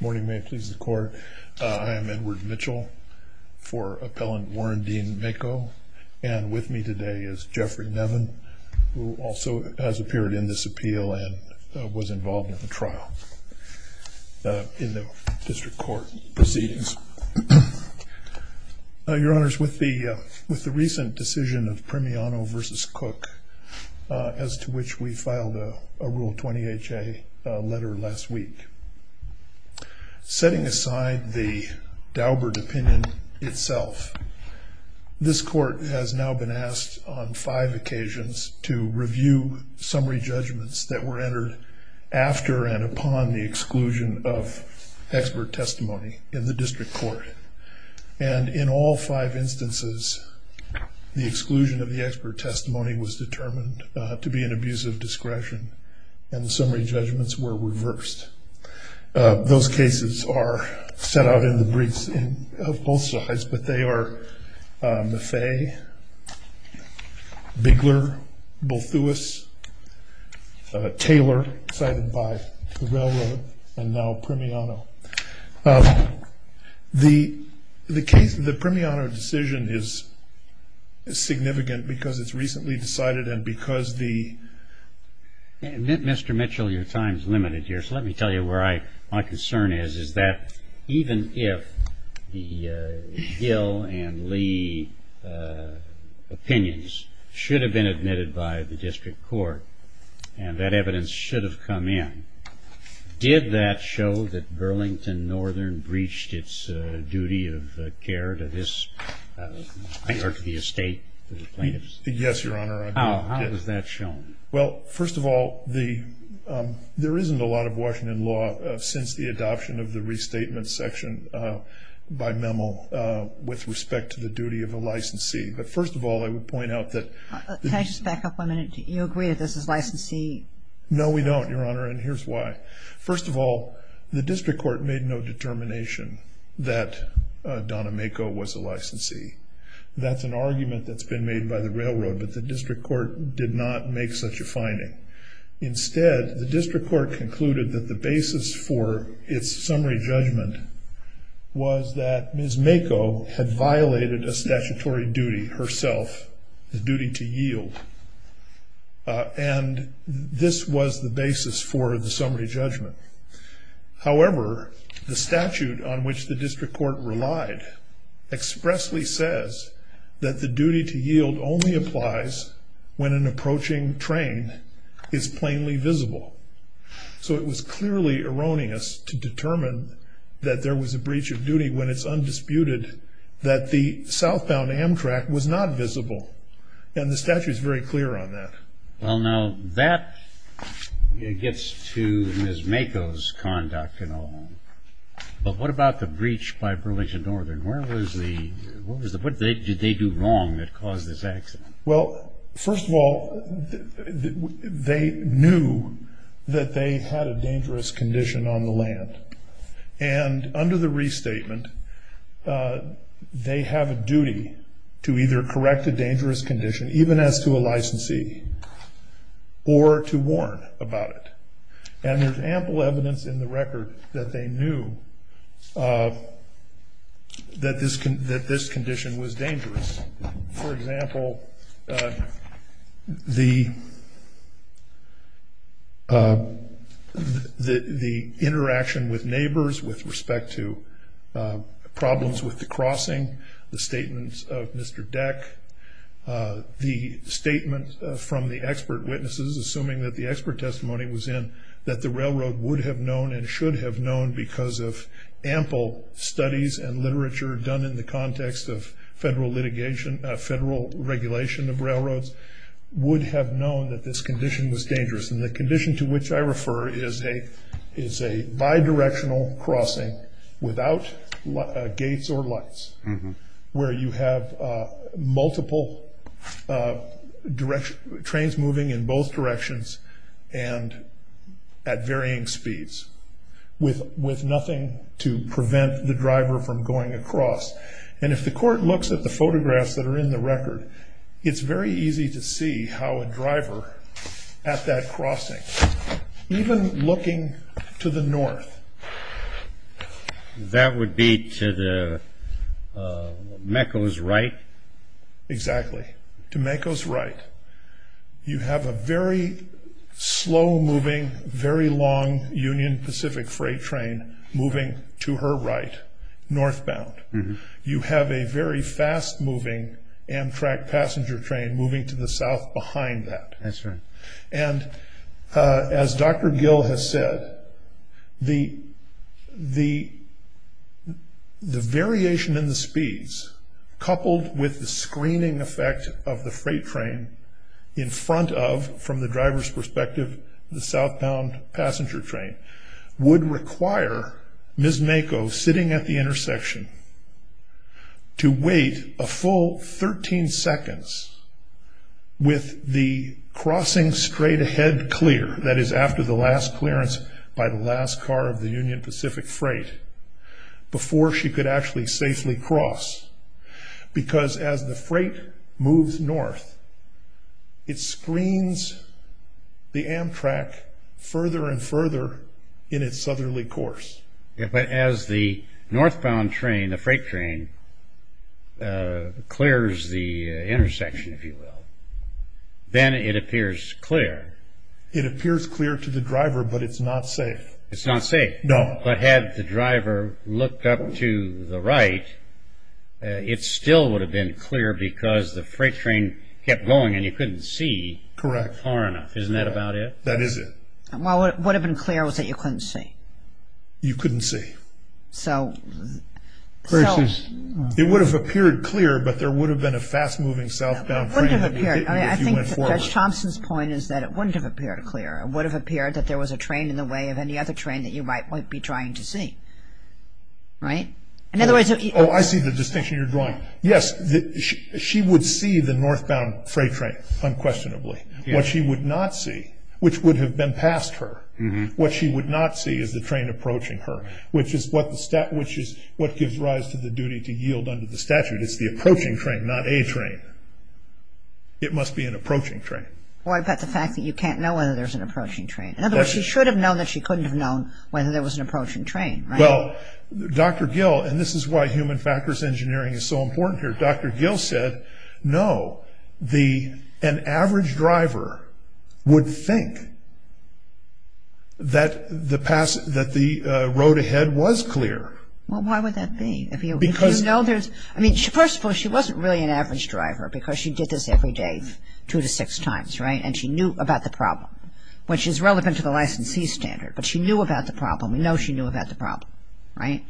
Morning, may it please the court. I am Edward Mitchell for Appellant Warren Dean Mako. And with me today is Jeffrey Nevin, who also has appeared in this appeal and was involved in the trial in the district court proceedings. Your Honors, with the with the recent decision of Premiano v. Cook, as to which we Setting aside the Daubert opinion itself, this court has now been asked on five occasions to review summary judgments that were entered after and upon the exclusion of expert testimony in the district court. And in all five instances, the exclusion of the expert testimony was determined to be an abuse of Those cases are set out in the briefs of both sides, but they are Maffei, Bigler, Balthewis, Taylor cited by the railroad and now Premiano. The case of the Premiano decision is significant because it's recently decided and because the Mr. Mitchell, your time is limited here. So let me tell you where I, my concern is, is that even if the Gill and Lee opinions should have been admitted by the district court, and that evidence should have come in, did that show that Burlington Northern breached its duty of care to this, or to the estate plaintiffs? Yes, Your Honor. How was that shown? Well, first of all, there isn't a lot of Washington law since the adoption of the restatement section by Memo with respect to the duty of a licensee. But first of all, I would point out that... Can I just back up one minute? Do you agree that this is licensee? No, we don't, Your Honor. And here's why. First of all, the district court made no determination that Donna Mako was a licensee. That's an argument that's been made by the railroad, but the district court did not make such a finding. Instead, the district court concluded that the basis for its summary judgment was that Ms. Mako had violated a statutory duty herself, the duty to yield. And this was the basis for the summary judgment. However, the statute on which the district court relied expressly says that the duty to yield only applies when an approaching train is plainly visible. So it was clearly erroneous to determine that there was a breach of duty when it's undisputed that the southbound Amtrak was not visible. And the statute is very clear on that. Well, now that gets to Ms. Mako's conduct and all. But what about the breach by Burlington Northern? What did they do wrong that caused this accident? Well, first of all, they knew that they had a dangerous condition on the land. And under the restatement, they have a duty to either correct a dangerous condition, even as to a licensee, or to warn about it. And there's ample evidence in the record that they knew that this condition was dangerous. For example, the interaction with neighbors with respect to problems with the crossing, the statements of Mr. Deck, the statement from the expert witnesses, assuming that the expert testimony was in, that the railroad would have known and should have known because of ample studies and literature done in the context of federal litigation, federal regulation of railroads, would have known that this condition was dangerous. And the condition to which I refer is a bidirectional crossing without gates or lights, where you have multiple trains moving in both directions and at varying speeds, with nothing to prevent the driver from going across. And if the court looks at the photographs that are in the record, it's very easy to see how a driver at that crossing, even looking to the north. That would be to the Mecco's right? Exactly. To Mecco's right. You have a very slow moving, very long Union Pacific freight train moving to her right, northbound. You have a very fast moving Amtrak passenger train moving to the south behind that. And as Dr. Gill has said, the variation in the speeds, coupled with the screening effect of the freight train in front of, from the driver's perspective, the southbound passenger train would require Ms. Mecco sitting at the with the crossing straight ahead clear, that is after the last clearance by the last car of the Union Pacific freight, before she could actually safely cross. Because as the freight moves north, it screens the Amtrak further and further in its southerly course. Yeah, but as the northbound train, the freight train clears the intersection, if you will, then it appears clear. It appears clear to the driver, but it's not safe. It's not safe. No. But had the driver looked up to the right, it still would have been clear because the freight train kept going and you couldn't see far enough. Isn't that about it? That is it. Well, what would have been clear was that you couldn't see. You couldn't see. So... It would have appeared clear, but there would have been a fast moving southbound train that would have hit you if you went forward. I think Judge Thompson's point is that it wouldn't have appeared clear. It would have appeared that there was a train in the way of any other train that you might be trying to see. Right? In other words... Oh, I see the distinction you're drawing. Yes, she would see the northbound freight train, unquestionably. What she would not see, which would have been past her, what she would not see is the train approaching her, which is what gives rise to the duty to yield under the statute. It's the approaching train, not a train. It must be an approaching train. Well, I bet the fact that you can't know whether there's an approaching train. In other words, she should have known that she couldn't have known whether there was an approaching train. Well, Dr. Gill, and this is why human factors engineering is so important here, Dr. Gill said, no, an average driver would think that the road ahead was clear. Well, why would that be? I mean, first of all, she wasn't really an average driver because she did this every day, two to six times, right? And she knew about the problem, which is relevant to the licensee standard, but she knew about the problem. We know she knew about the problem, right?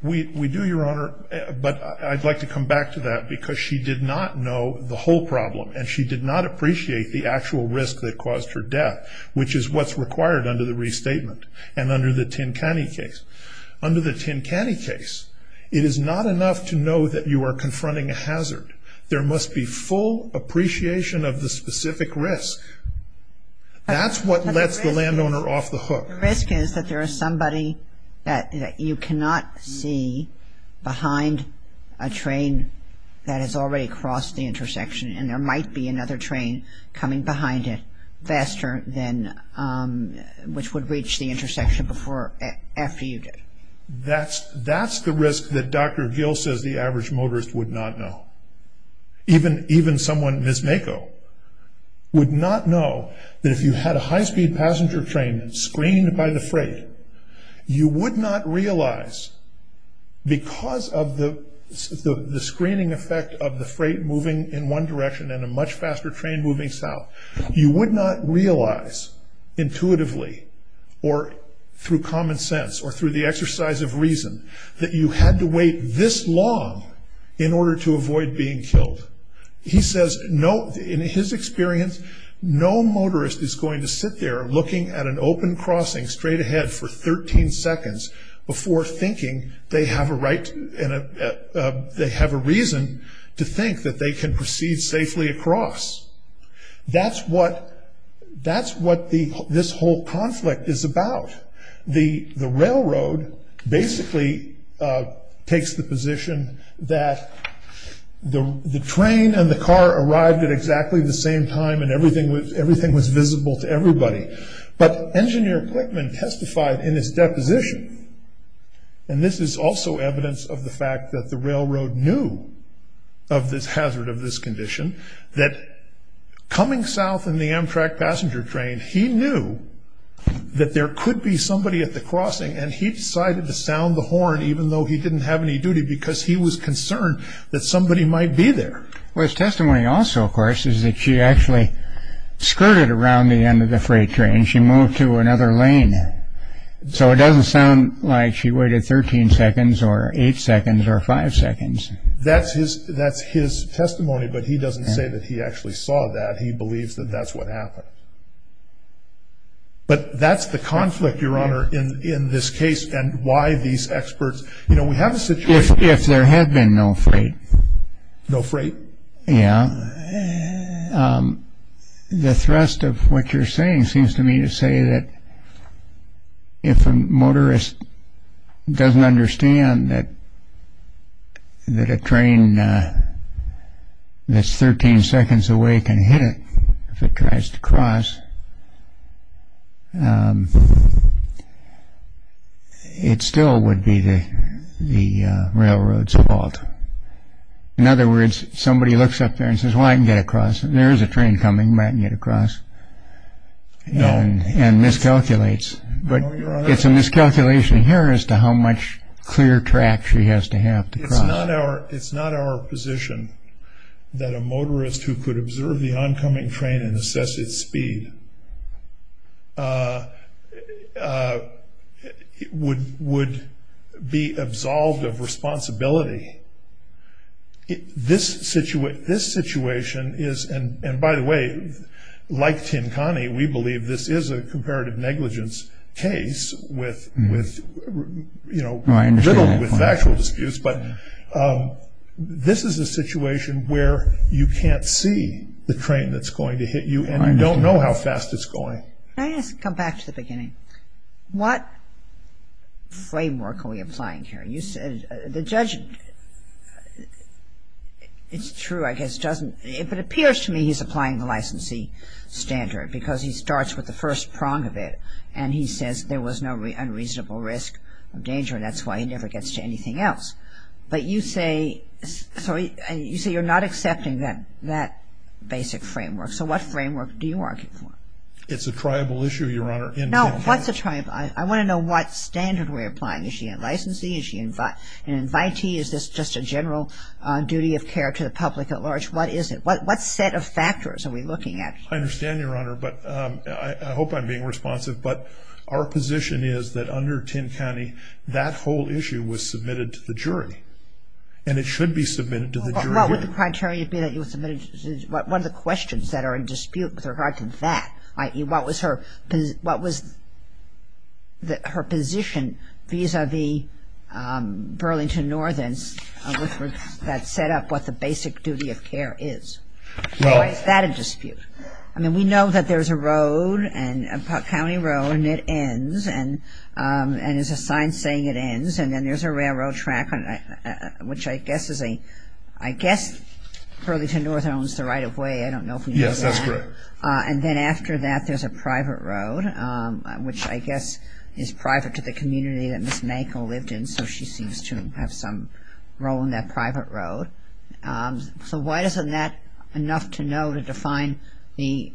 We do, Your Honor, but I'd like to come back to that because she did not know the whole problem and she did not appreciate the actual risk that caused her death, which is what's required under the restatement and under the Tin Canny case. Under the Tin Canny case, it is not enough to know that you are confronting a hazard. There must be full appreciation of the specific risk. That's what lets the landowner off the hook. The risk is that there is somebody that you cannot see behind a train that has already crossed the intersection and there might be another train coming behind it faster than, which would reach the intersection before, after you did. That's the risk that Dr. Gill says the average motorist would not know. Even someone, Ms. Mako, would not know that if you had a high-speed passenger train screened by the freight, you would not realize because of the screening effect of the freight moving in one direction and a much faster train moving south, you would not realize intuitively or through common sense or through the exercise of reason, that you had to wait this long in order to avoid being killed. He says, in his experience, no motorist is going to sit there looking at an open crossing straight ahead for 13 seconds before thinking they have a reason to think that they can proceed safely across. That's what this whole conflict is about. The railroad basically takes the position that the train and the car arrived at exactly the same time and everything was visible to everybody. But Engineer Clickman testified in his deposition, and this is also evidence of the fact that the railroad knew of this hazard, of this condition, that coming south in the crossing and he decided to sound the horn even though he didn't have any duty because he was concerned that somebody might be there. Well, his testimony also, of course, is that she actually skirted around the end of the freight train. She moved to another lane. So it doesn't sound like she waited 13 seconds or 8 seconds or 5 seconds. That's his testimony, but he doesn't say that he actually saw that. He believes that that's what happened. But that's the conflict, Your Honor, in this case and why these experts, you know, we have a situation. If there had been no freight. No freight? Yeah. The thrust of what you're saying seems to me to say that if a motorist doesn't understand that a train that's 13 seconds away can hit it if it tries to cross, it still would be the railroad's fault. In other words, somebody looks up there and says, well, I can get across. There is a train coming. I can get across. No. And miscalculates. But it's a miscalculation here as to how much clear track she has to have to cross. It's not our position that a non-coming train incessant speed would be absolved of responsibility. This situation is, and by the way, like Tinkani, we believe this is a comparative negligence case with, you know, little factual disputes, but this is a situation where you can't see the train that's going to hit you and you don't know how fast it's going. I guess to come back to the beginning, what framework are we applying here? You said the judge, it's true, I guess, doesn't, if it appears to me he's applying the licensee standard because he starts with the first prong of it and he says there was no unreasonable risk of danger and that's why he never gets to anything else. But you say, sorry, you say you're not accepting that basic framework. So what framework do you argue for? It's a triable issue, Your Honor. No, what's a triable issue? I want to know what standard we're applying. Is she a licensee? Is she an invitee? Is this just a general duty of care to the public at large? What is it? What set of factors are we looking at? I understand, Your Honor, but I hope I'm being responsive. But our position is that under Tinkani, that whole issue was submitted to the jury and it should be submitted to the jury. What would the criteria be that you would submit it to the jury? One of the questions that are in dispute with regard to that, what was her position vis-à-vis Burlington Northens that set up what the basic duty of care is. Is that in dispute? I mean, we know that there's a road, a county road, and it ends and there's a sign saying it ends and then there's a railroad track, which I guess is a, I guess Burlington North owns the right-of-way. I don't know if we know that. Yes, that's correct. And then after that, there's a private road, which I guess is private to the community that Ms. Manko lived in, so she seems to have some role in that private road. So why isn't that enough to know to define the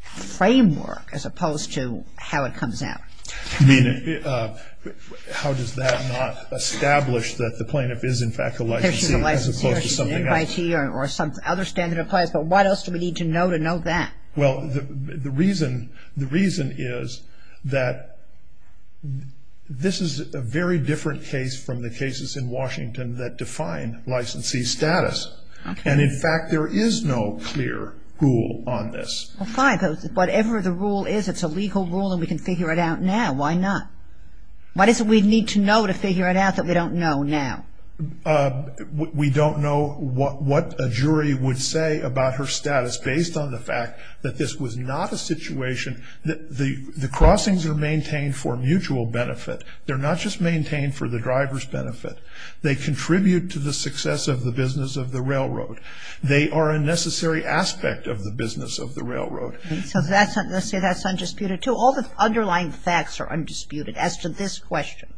framework as opposed to how it comes out? I mean, how does that not establish that the plaintiff is in fact a licensee as opposed to something else? She's a licensee, she's an invitee or some other standard applies, but what else do we need to know to know that? Well, the reason is that this is a very different case from the cases in Washington that define licensee status. And in fact, there is no clear rule on this. Well, fine. Whatever the rule is, it's a legal rule and we can figure it out now. Why not? What is it we need to know to figure it out that we don't know now? We don't know what a jury would say about her status based on the fact that this was not a situation that the crossings are maintained for mutual benefit. They're not just maintained for the driver's benefit. They contribute to the success of the business of the So let's say that's undisputed too. All the underlying facts are undisputed as to this question.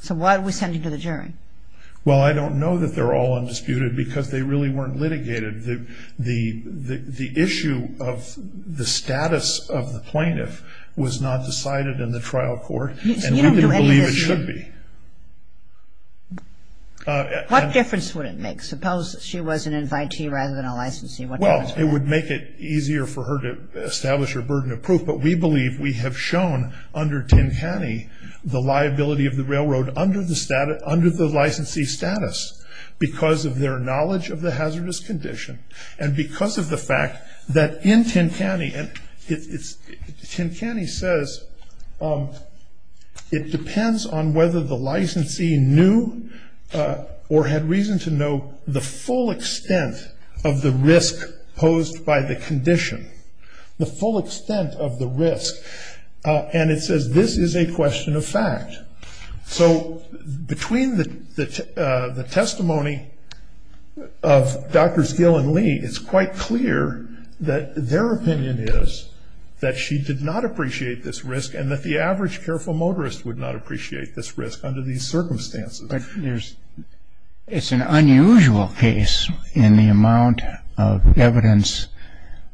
So why are we sending to the jury? Well, I don't know that they're all undisputed because they really weren't litigated. The issue of the status of the plaintiff was not decided in the trial court and we didn't believe it should be. What difference would it make? Suppose she was an invitee rather than a licensee. Well, it would make it easier for her to establish her burden of proof, but we believe we have shown under Tincani the liability of the railroad under the licensee's status because of their knowledge of the hazardous condition and because of the fact that in Tincani and Tincani says it depends on whether the licensee knew or had reason to know the full extent of the risk posed by the condition. The full extent of the risk. And it says this is a question of fact. So between the testimony of Drs. Gill and Lee, it's quite clear that their opinion is that she did not appreciate this risk and that the average careful motorist would not appreciate this risk under these circumstances. But it's an unusual case in the amount of evidence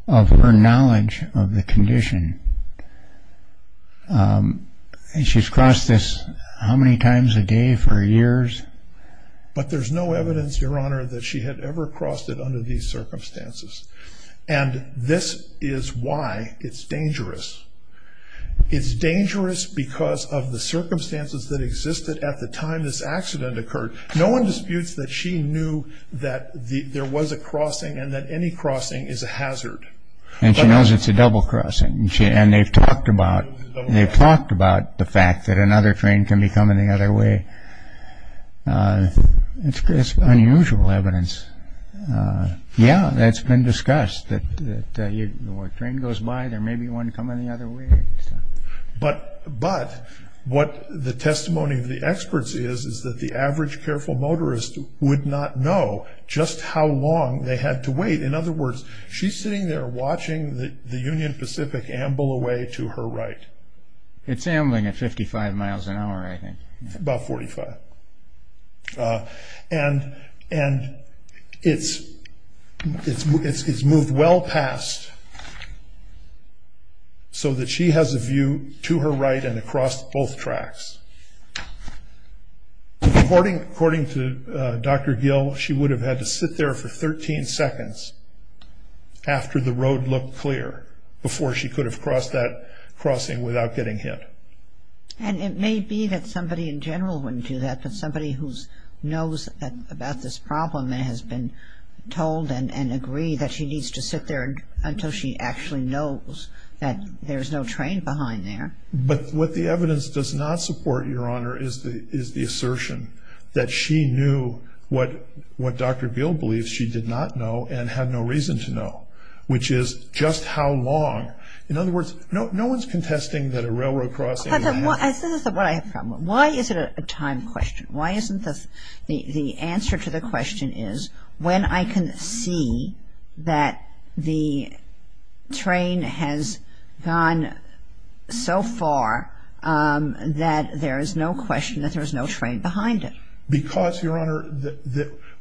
of her knowledge of the condition. She's crossed this how many times a day for years? But there's no evidence, Your Honor, that she had ever crossed it under these circumstances. And this is why it's dangerous. It's dangerous because of the circumstances that existed at the time this accident occurred. No one disputes that she knew that there was a crossing and that any crossing is a hazard. And she knows it's a double crossing. And they've talked about the fact that another train can be coming the other way. It's unusual evidence. Yeah, that's been discussed. The train goes by, there may be one coming the other way. But what the testimony of the experts is, is that the average careful motorist would not know just how long they had to wait. In other words, she's sitting there watching the Union Pacific amble away to her right. It's ambling at 55 miles an hour, I think. About 45. And it's moved well past so that she has a view to her right and across both tracks. According to Dr. Gill, she would have had to sit there for 13 seconds after the road looked clear before she could have crossed that crossing without getting hit. And it may be that somebody in general wouldn't do that, but somebody who knows about this problem and has been told and agreed that she needs to sit there until she actually knows that there's no train behind there. But what the evidence does not support, Your Honor, is the assertion that she knew what Dr. Gill believes she did not know and had no reason to know, which is just how long. In other words, no one's contesting that a railroad crossing is a matter of time. But this is what I have a problem with. Why is it a time question? Why isn't the answer to the question is, when I can see that the train has gone so far that there is no question that there is no train behind it? Because, Your Honor,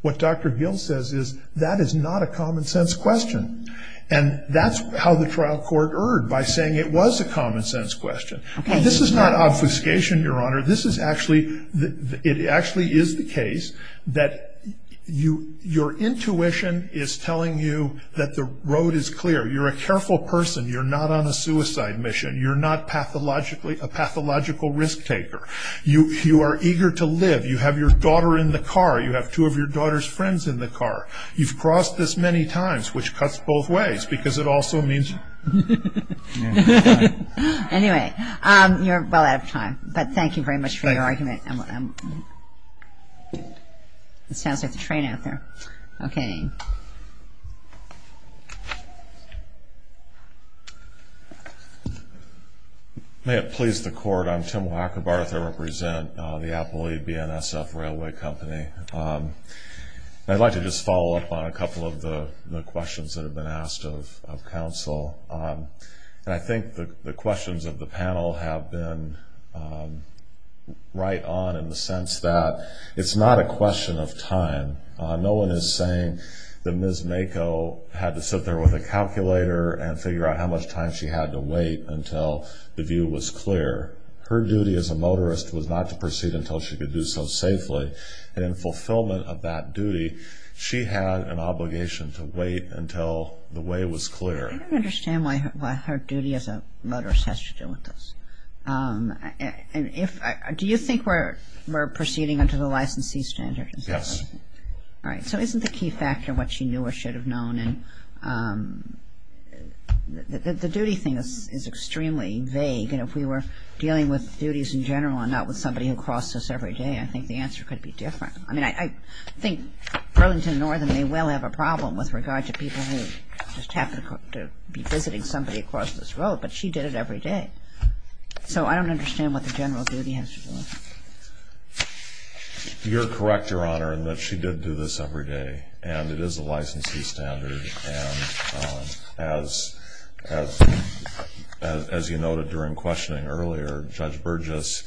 what Dr. Gill says is, that is not a common sense question. And that's how the trial court erred, by saying it was a common sense question. This is not obfuscation, Your Honor. This is actually, it actually is the case that your intuition is telling you that the road is clear. You're a careful person. You're not on a suicide mission. You're not a pathological risk taker. You are eager to live. You have your daughter in the car. You have two of your daughter's friends in the car. You've crossed this many times, which cuts both ways, because it also means... Anyway, you're well out of time. But thank you very much for your argument. Thank you. It sounds like the train out there. Okay. May it please the Court, I'm Tim Wackerbarth. I represent the Appalooie BNSF Railway Company. I'd like to just follow up on a request of counsel. And I think the questions of the panel have been right on in the sense that it's not a question of time. No one is saying that Ms. Mako had to sit there with a calculator and figure out how much time she had to wait until the view was clear. Her duty as a motorist was not to proceed until she could do so safely. And in fulfillment of that duty, she had an obligation to wait until the way was clear. I don't understand why her duty as a motorist has to do with this. Do you think we're proceeding under the licensee standard? Yes. All right. So isn't the key factor what she knew or should have known? And the duty thing is extremely vague. And if we were dealing with duties in general and not with somebody who crossed us every day, I think the answer could be different. I mean, I think Burlington Northern may well have a problem with regard to people who just happen to be visiting somebody across this road. But she did it every day. So I don't understand what the general duty has to do with it. You're correct, Your Honor, in that she did do this every day. And it is a licensee standard. And as you noted during questioning earlier, Judge Burgess,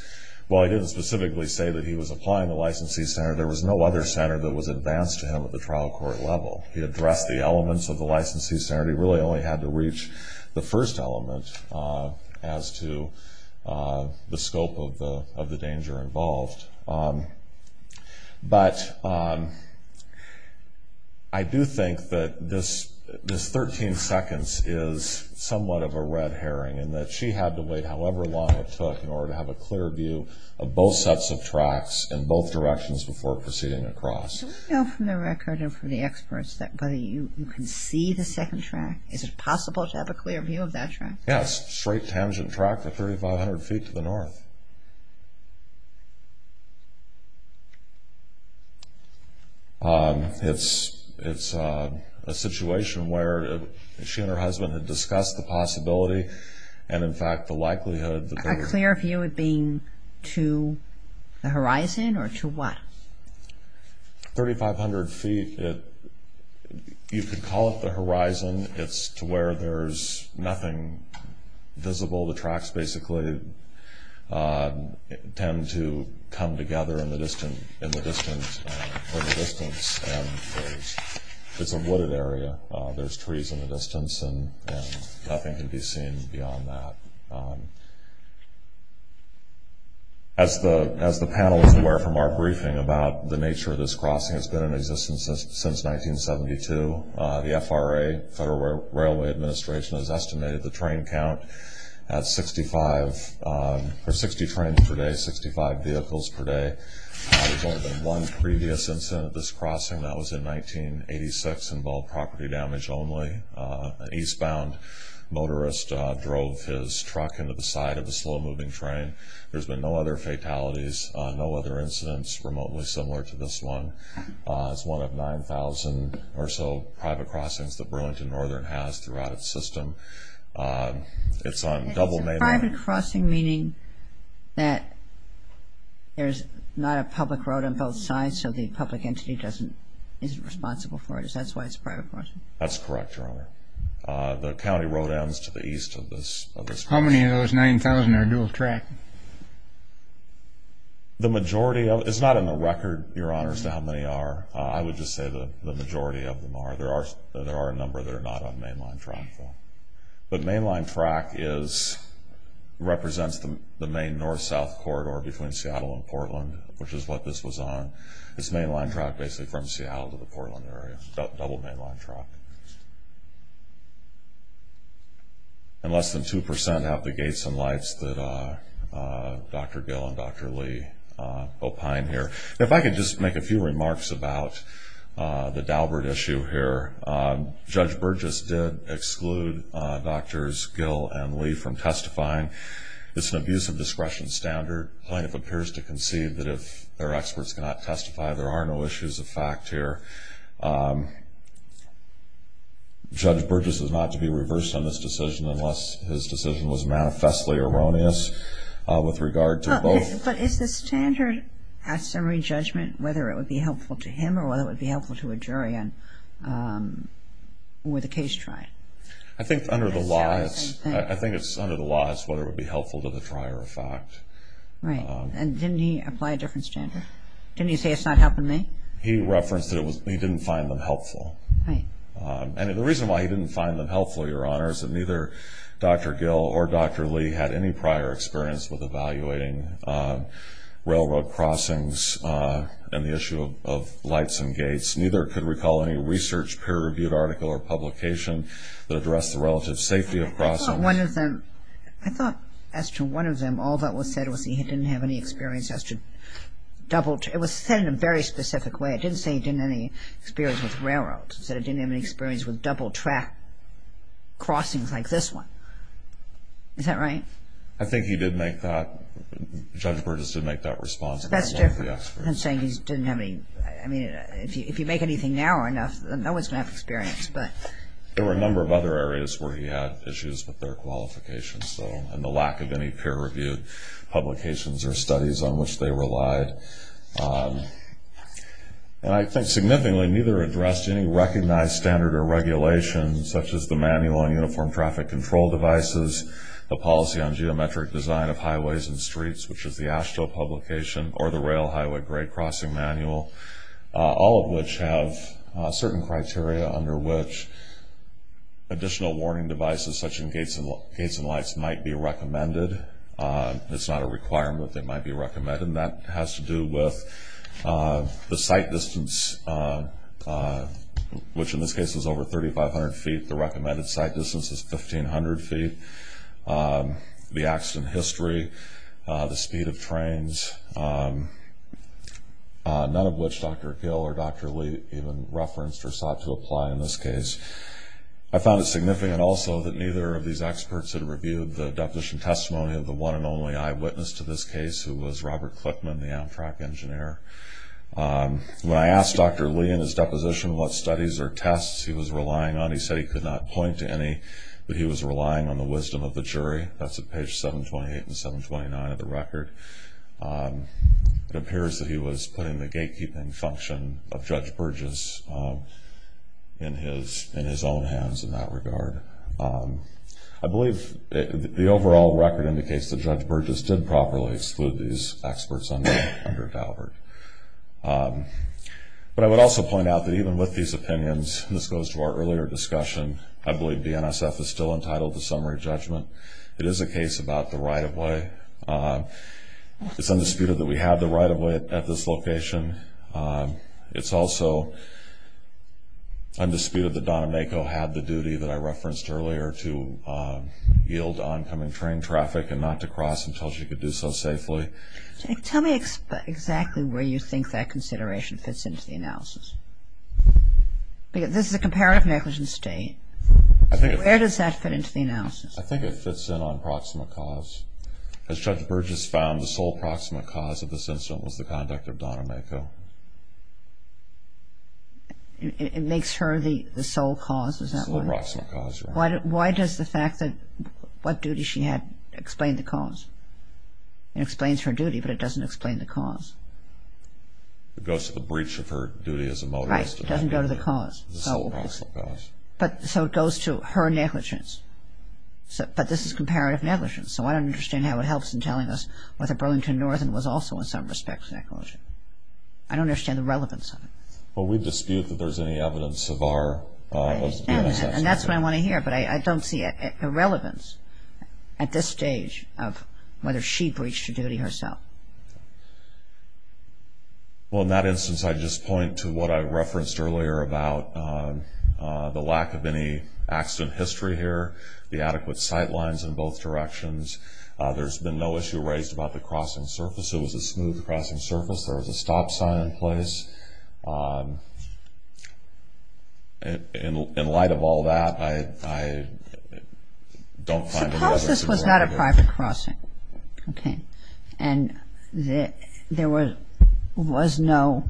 while he didn't specifically say that he was applying the licensee standard, there was no other standard that was advanced to him at the trial court level. He addressed the elements of the licensee standard. He really only had to reach the first element as to the scope of the danger involved. But I do think that this 13 seconds is somewhat of a red herring in that she had to wait however long it took in order to have a clear view of both sets of So we know from the record and from the experts that whether you can see the second track, is it possible to have a clear view of that track? Yes, straight tangent track, 3,500 feet to the north. It's a situation where she and her husband had discussed the possibility and, in fact, the likelihood that they were A clear view of being to the horizon or to what? 3,500 feet. You could call it the horizon. It's to where there's nothing visible. The tracks basically tend to come together in the distance. It's a wooded area. There's trees in the distance and nothing can be seen beyond that. As the panel is aware from our The nature of this crossing has been in existence since 1972. The FRA, Federal Railway Administration, has estimated the train count at 65, or 60 trains per day, 65 vehicles per day. There's only been one previous incident of this crossing. That was in 1986. Involved property damage only. An eastbound motorist drove his truck into the side of a slow-moving train. There's been no other fatalities, no other incidents remotely similar to this one. It's one of 9,000 or so private crossings that Burlington Northern has throughout its system. It's on double mainland. Private crossing, meaning that there's not a public road on both sides, so the public entity isn't responsible for it. Is that why it's a private crossing? That's correct, Your Honor. The county road ends to the east of this How many of those 9,000 are dual track? It's not in the record, Your Honor, as to how many are. I would just say the majority of them are. There are a number that are not on mainline track. But mainline track represents the main north-south corridor between Seattle and Portland, which is what this was on. It's mainline track basically from Seattle to the Portland area. Double mainline track. And less than 2% have the gates and lights that Dr. Gill and Dr. Lee opine here. If I could just make a few remarks about the Daubert issue here. Judge Burgess did exclude Drs. Gill and Lee from testifying. It's an abuse of discretion standard. Plaintiff appears to concede that if their experts cannot testify, there are no issues of fact here. Judge Burgess is not to be reversed on this decision unless his decision was manifestly erroneous with regard to both But is the standard at summary judgment whether it would be helpful to him or whether it would be helpful to a jury with a case tried? I think under the law it's whether it would be helpful to the trier of fact. Right. And didn't he apply a different standard? Didn't he say it's not helping me? He referenced that he didn't find them helpful. And the reason why he didn't find them helpful, Your Honor, is that neither Dr. Gill or Dr. Lee had any prior experience with evaluating railroad crossings and the issue of lights and gates. Neither could recall any research peer-reviewed article or publication that addressed the relative safety of crossings. I thought as to one of them, all that was said was he didn't have any experience as to double track. It was said in a very specific way. It didn't say he didn't have any experience with railroads. It said he didn't have any experience with double track crossings like this one. Is that right? I think he did make that, Judge Burgess did make that response. That's different from saying he didn't have any. I mean, if you make anything narrow enough, no one's going to have experience. There were a number of other areas where he had issues with their qualifications, though, and the lack of any peer-reviewed publications or studies on which they relied. And I think significantly, neither addressed any recognized standard or regulation, such as the Manual on Uniform Traffic Control Devices, the Policy on Geometric Design of Highways and Streets, which is the AASHTO publication, or the Rail Highway Grade Crossing Manual, all of which have certain criteria under which additional warning devices, such as gates and lights, might be recommended. It's not a requirement that they might be recommended. And that has to do with the sight distance, which in this case is over 3,500 feet. The recommended sight distance is 1,500 feet. The accident history, the speed of trains, none of which Dr. Gill or Dr. Lee even referenced or sought to apply in this case. I found it significant also that neither of these experts had a deposition testimony of the one and only eyewitness to this case, who was Robert Clickman, the Amtrak engineer. When I asked Dr. Lee in his deposition what studies or tests he was relying on, he said he could not point to any, but he was relying on the wisdom of the jury. That's at page 728 and 729 of the record. It appears that he was putting the gatekeeping function of Judge Burgess. The overall record indicates that Judge Burgess did properly exclude these experts under Daubert. But I would also point out that even with these opinions, and this goes to our earlier discussion, I believe DNSF is still entitled to summary judgment. It is a case about the right-of-way. It's undisputed that we have the right-of-way at this location. It's also undisputed that Don Emako had the duty that I referenced earlier to yield oncoming train traffic and not to cross until she could do so safely. Judge, tell me exactly where you think that consideration fits into the analysis. This is a comparative negligence state. Where does that fit into the analysis? I think it fits in on proximate cause. As Judge Burgess found, the sole proximate cause of this incident was the conduct of Don Emako. It makes her the sole cause? The sole proximate cause, yes. Why does the fact that what duty she had explain the cause? It explains her duty, but it doesn't explain the cause. It goes to the breach of her duty as a motorist. Right. It doesn't go to the cause. The sole proximate cause. But so it goes to her negligence. But this is comparative negligence. So I don't understand how it helps in telling us whether Burlington Northern was also in some respect negligent. I don't understand the relevance of it. Well, we dispute that there's any evidence of our... And that's what I want to hear. But I don't see a relevance at this stage of whether she breached her duty herself. Well, in that instance, I just point to what I referenced earlier about the lack of any accident history here, the adequate sight lines in both directions. There's been no issue raised about the crossing surface. It was a smooth crossing surface. There was a stop sign in place. In light of all that, I don't find any evidence at this point. Suppose this was not a private crossing. Okay. And there was no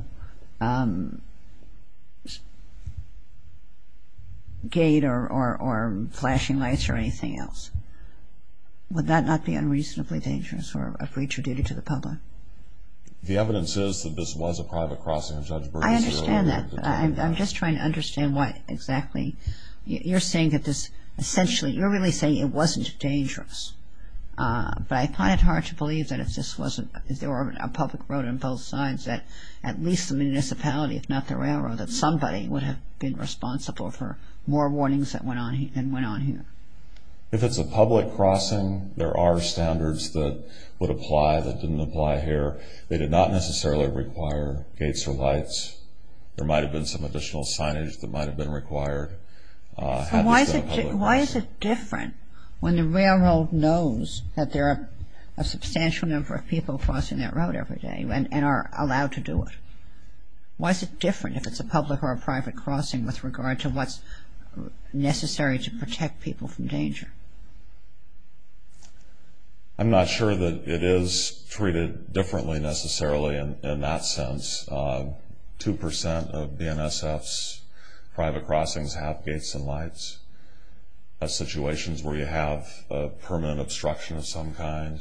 gate or flashing lights or anything else. Would that not be unreasonably dangerous for a breach of duty to the public? The evidence is that this was a private crossing of Judge Bernice's area. I understand that. But I'm just trying to understand why exactly. You're saying that this essentially... You're really saying it wasn't dangerous. But I find it hard to believe that if this wasn't... If there were a public road on both sides, that at least the municipality, if not the railroad, that somebody would have been responsible for more warnings that went on here. If it's a public crossing, there are standards that would apply here. They did not necessarily require gates or lights. There might have been some additional signage that might have been required. So why is it different when the railroad knows that there are a substantial number of people crossing that road every day and are allowed to do it? Why is it different if it's a public or a private crossing with regard to what's necessary to protect people from danger? I'm not sure that it is treated differently, necessarily, in that sense. Two percent of BNSFs, private crossings, have gates and lights. That's situations where you have permanent obstruction of some kind,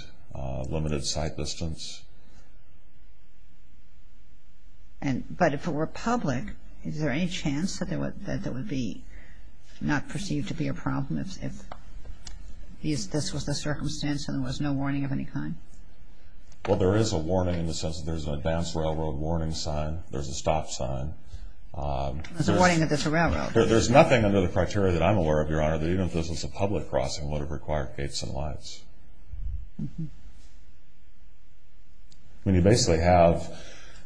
limited sight distance. But if it were public, is there any chance that there would be not perceived to be a problem if this was the circumstance and there was no warning of any kind? Well, there is a warning in the sense that there's an advanced railroad warning sign. There's a stop sign. There's a warning that it's a railroad. There's nothing under the criteria that I'm aware of, Your Honor, that even if this was a public crossing would have required gates and lights. You basically have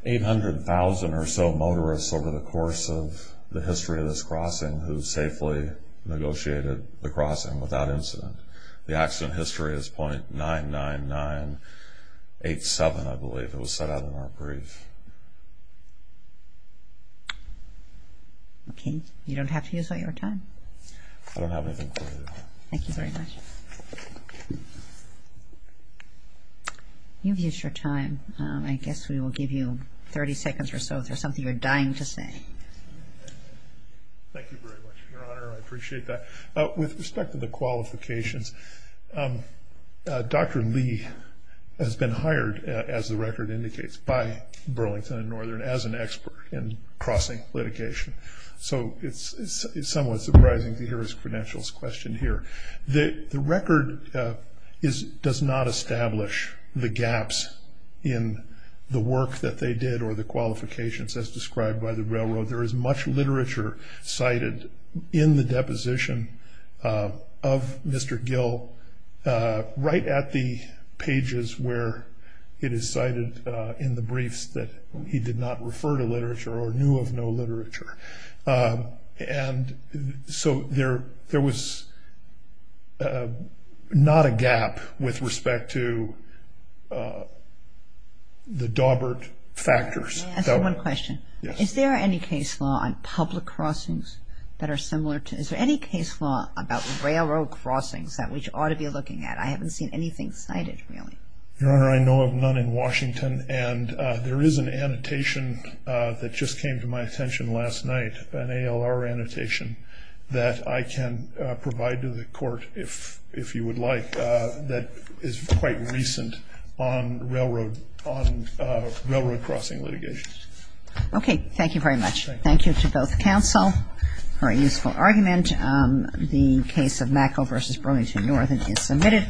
800,000 or so motorists over the course of the history of this crossing who safely negotiated the crossing without incident. The accident history is .99987, I believe. It was set out in our brief. Okay. You don't have to use all your time. I don't have anything for you, Your Honor. Thank you very much. You've used your time. I guess we will give you 30 seconds or so if there's something you're dying to say. Thank you very much, Your Honor. I appreciate that. With respect to the qualifications, Dr. Lee has been hired, as the record indicates, by Burlington and Northern as an expert in crossing litigation. So it's somewhat surprising to hear his credentials questioned here. The record does not establish the gaps in the work that they did or the qualifications as described by the railroad. There is much literature cited in the deposition of Mr. Gill right at the pages where it is cited in the briefs that he did not refer to literature or knew of no literature. And so there was not a gap with respect to the Daubert factors. Can I ask you one question? Yes. Is there any case law on public crossings that are similar to this? Is there any case law about railroad crossings that we ought to be looking at? I haven't seen anything cited really. Your Honor, I know of none in Washington. And there is an annotation that just came to my attention last night, an ALR annotation, that I can provide to the Court, if you would like, that is quite recent on railroad crossing litigation. Okay. Thank you very much. Thank you to both counsel for a useful argument. The case of Macko v. Burlington-Northern is submitted.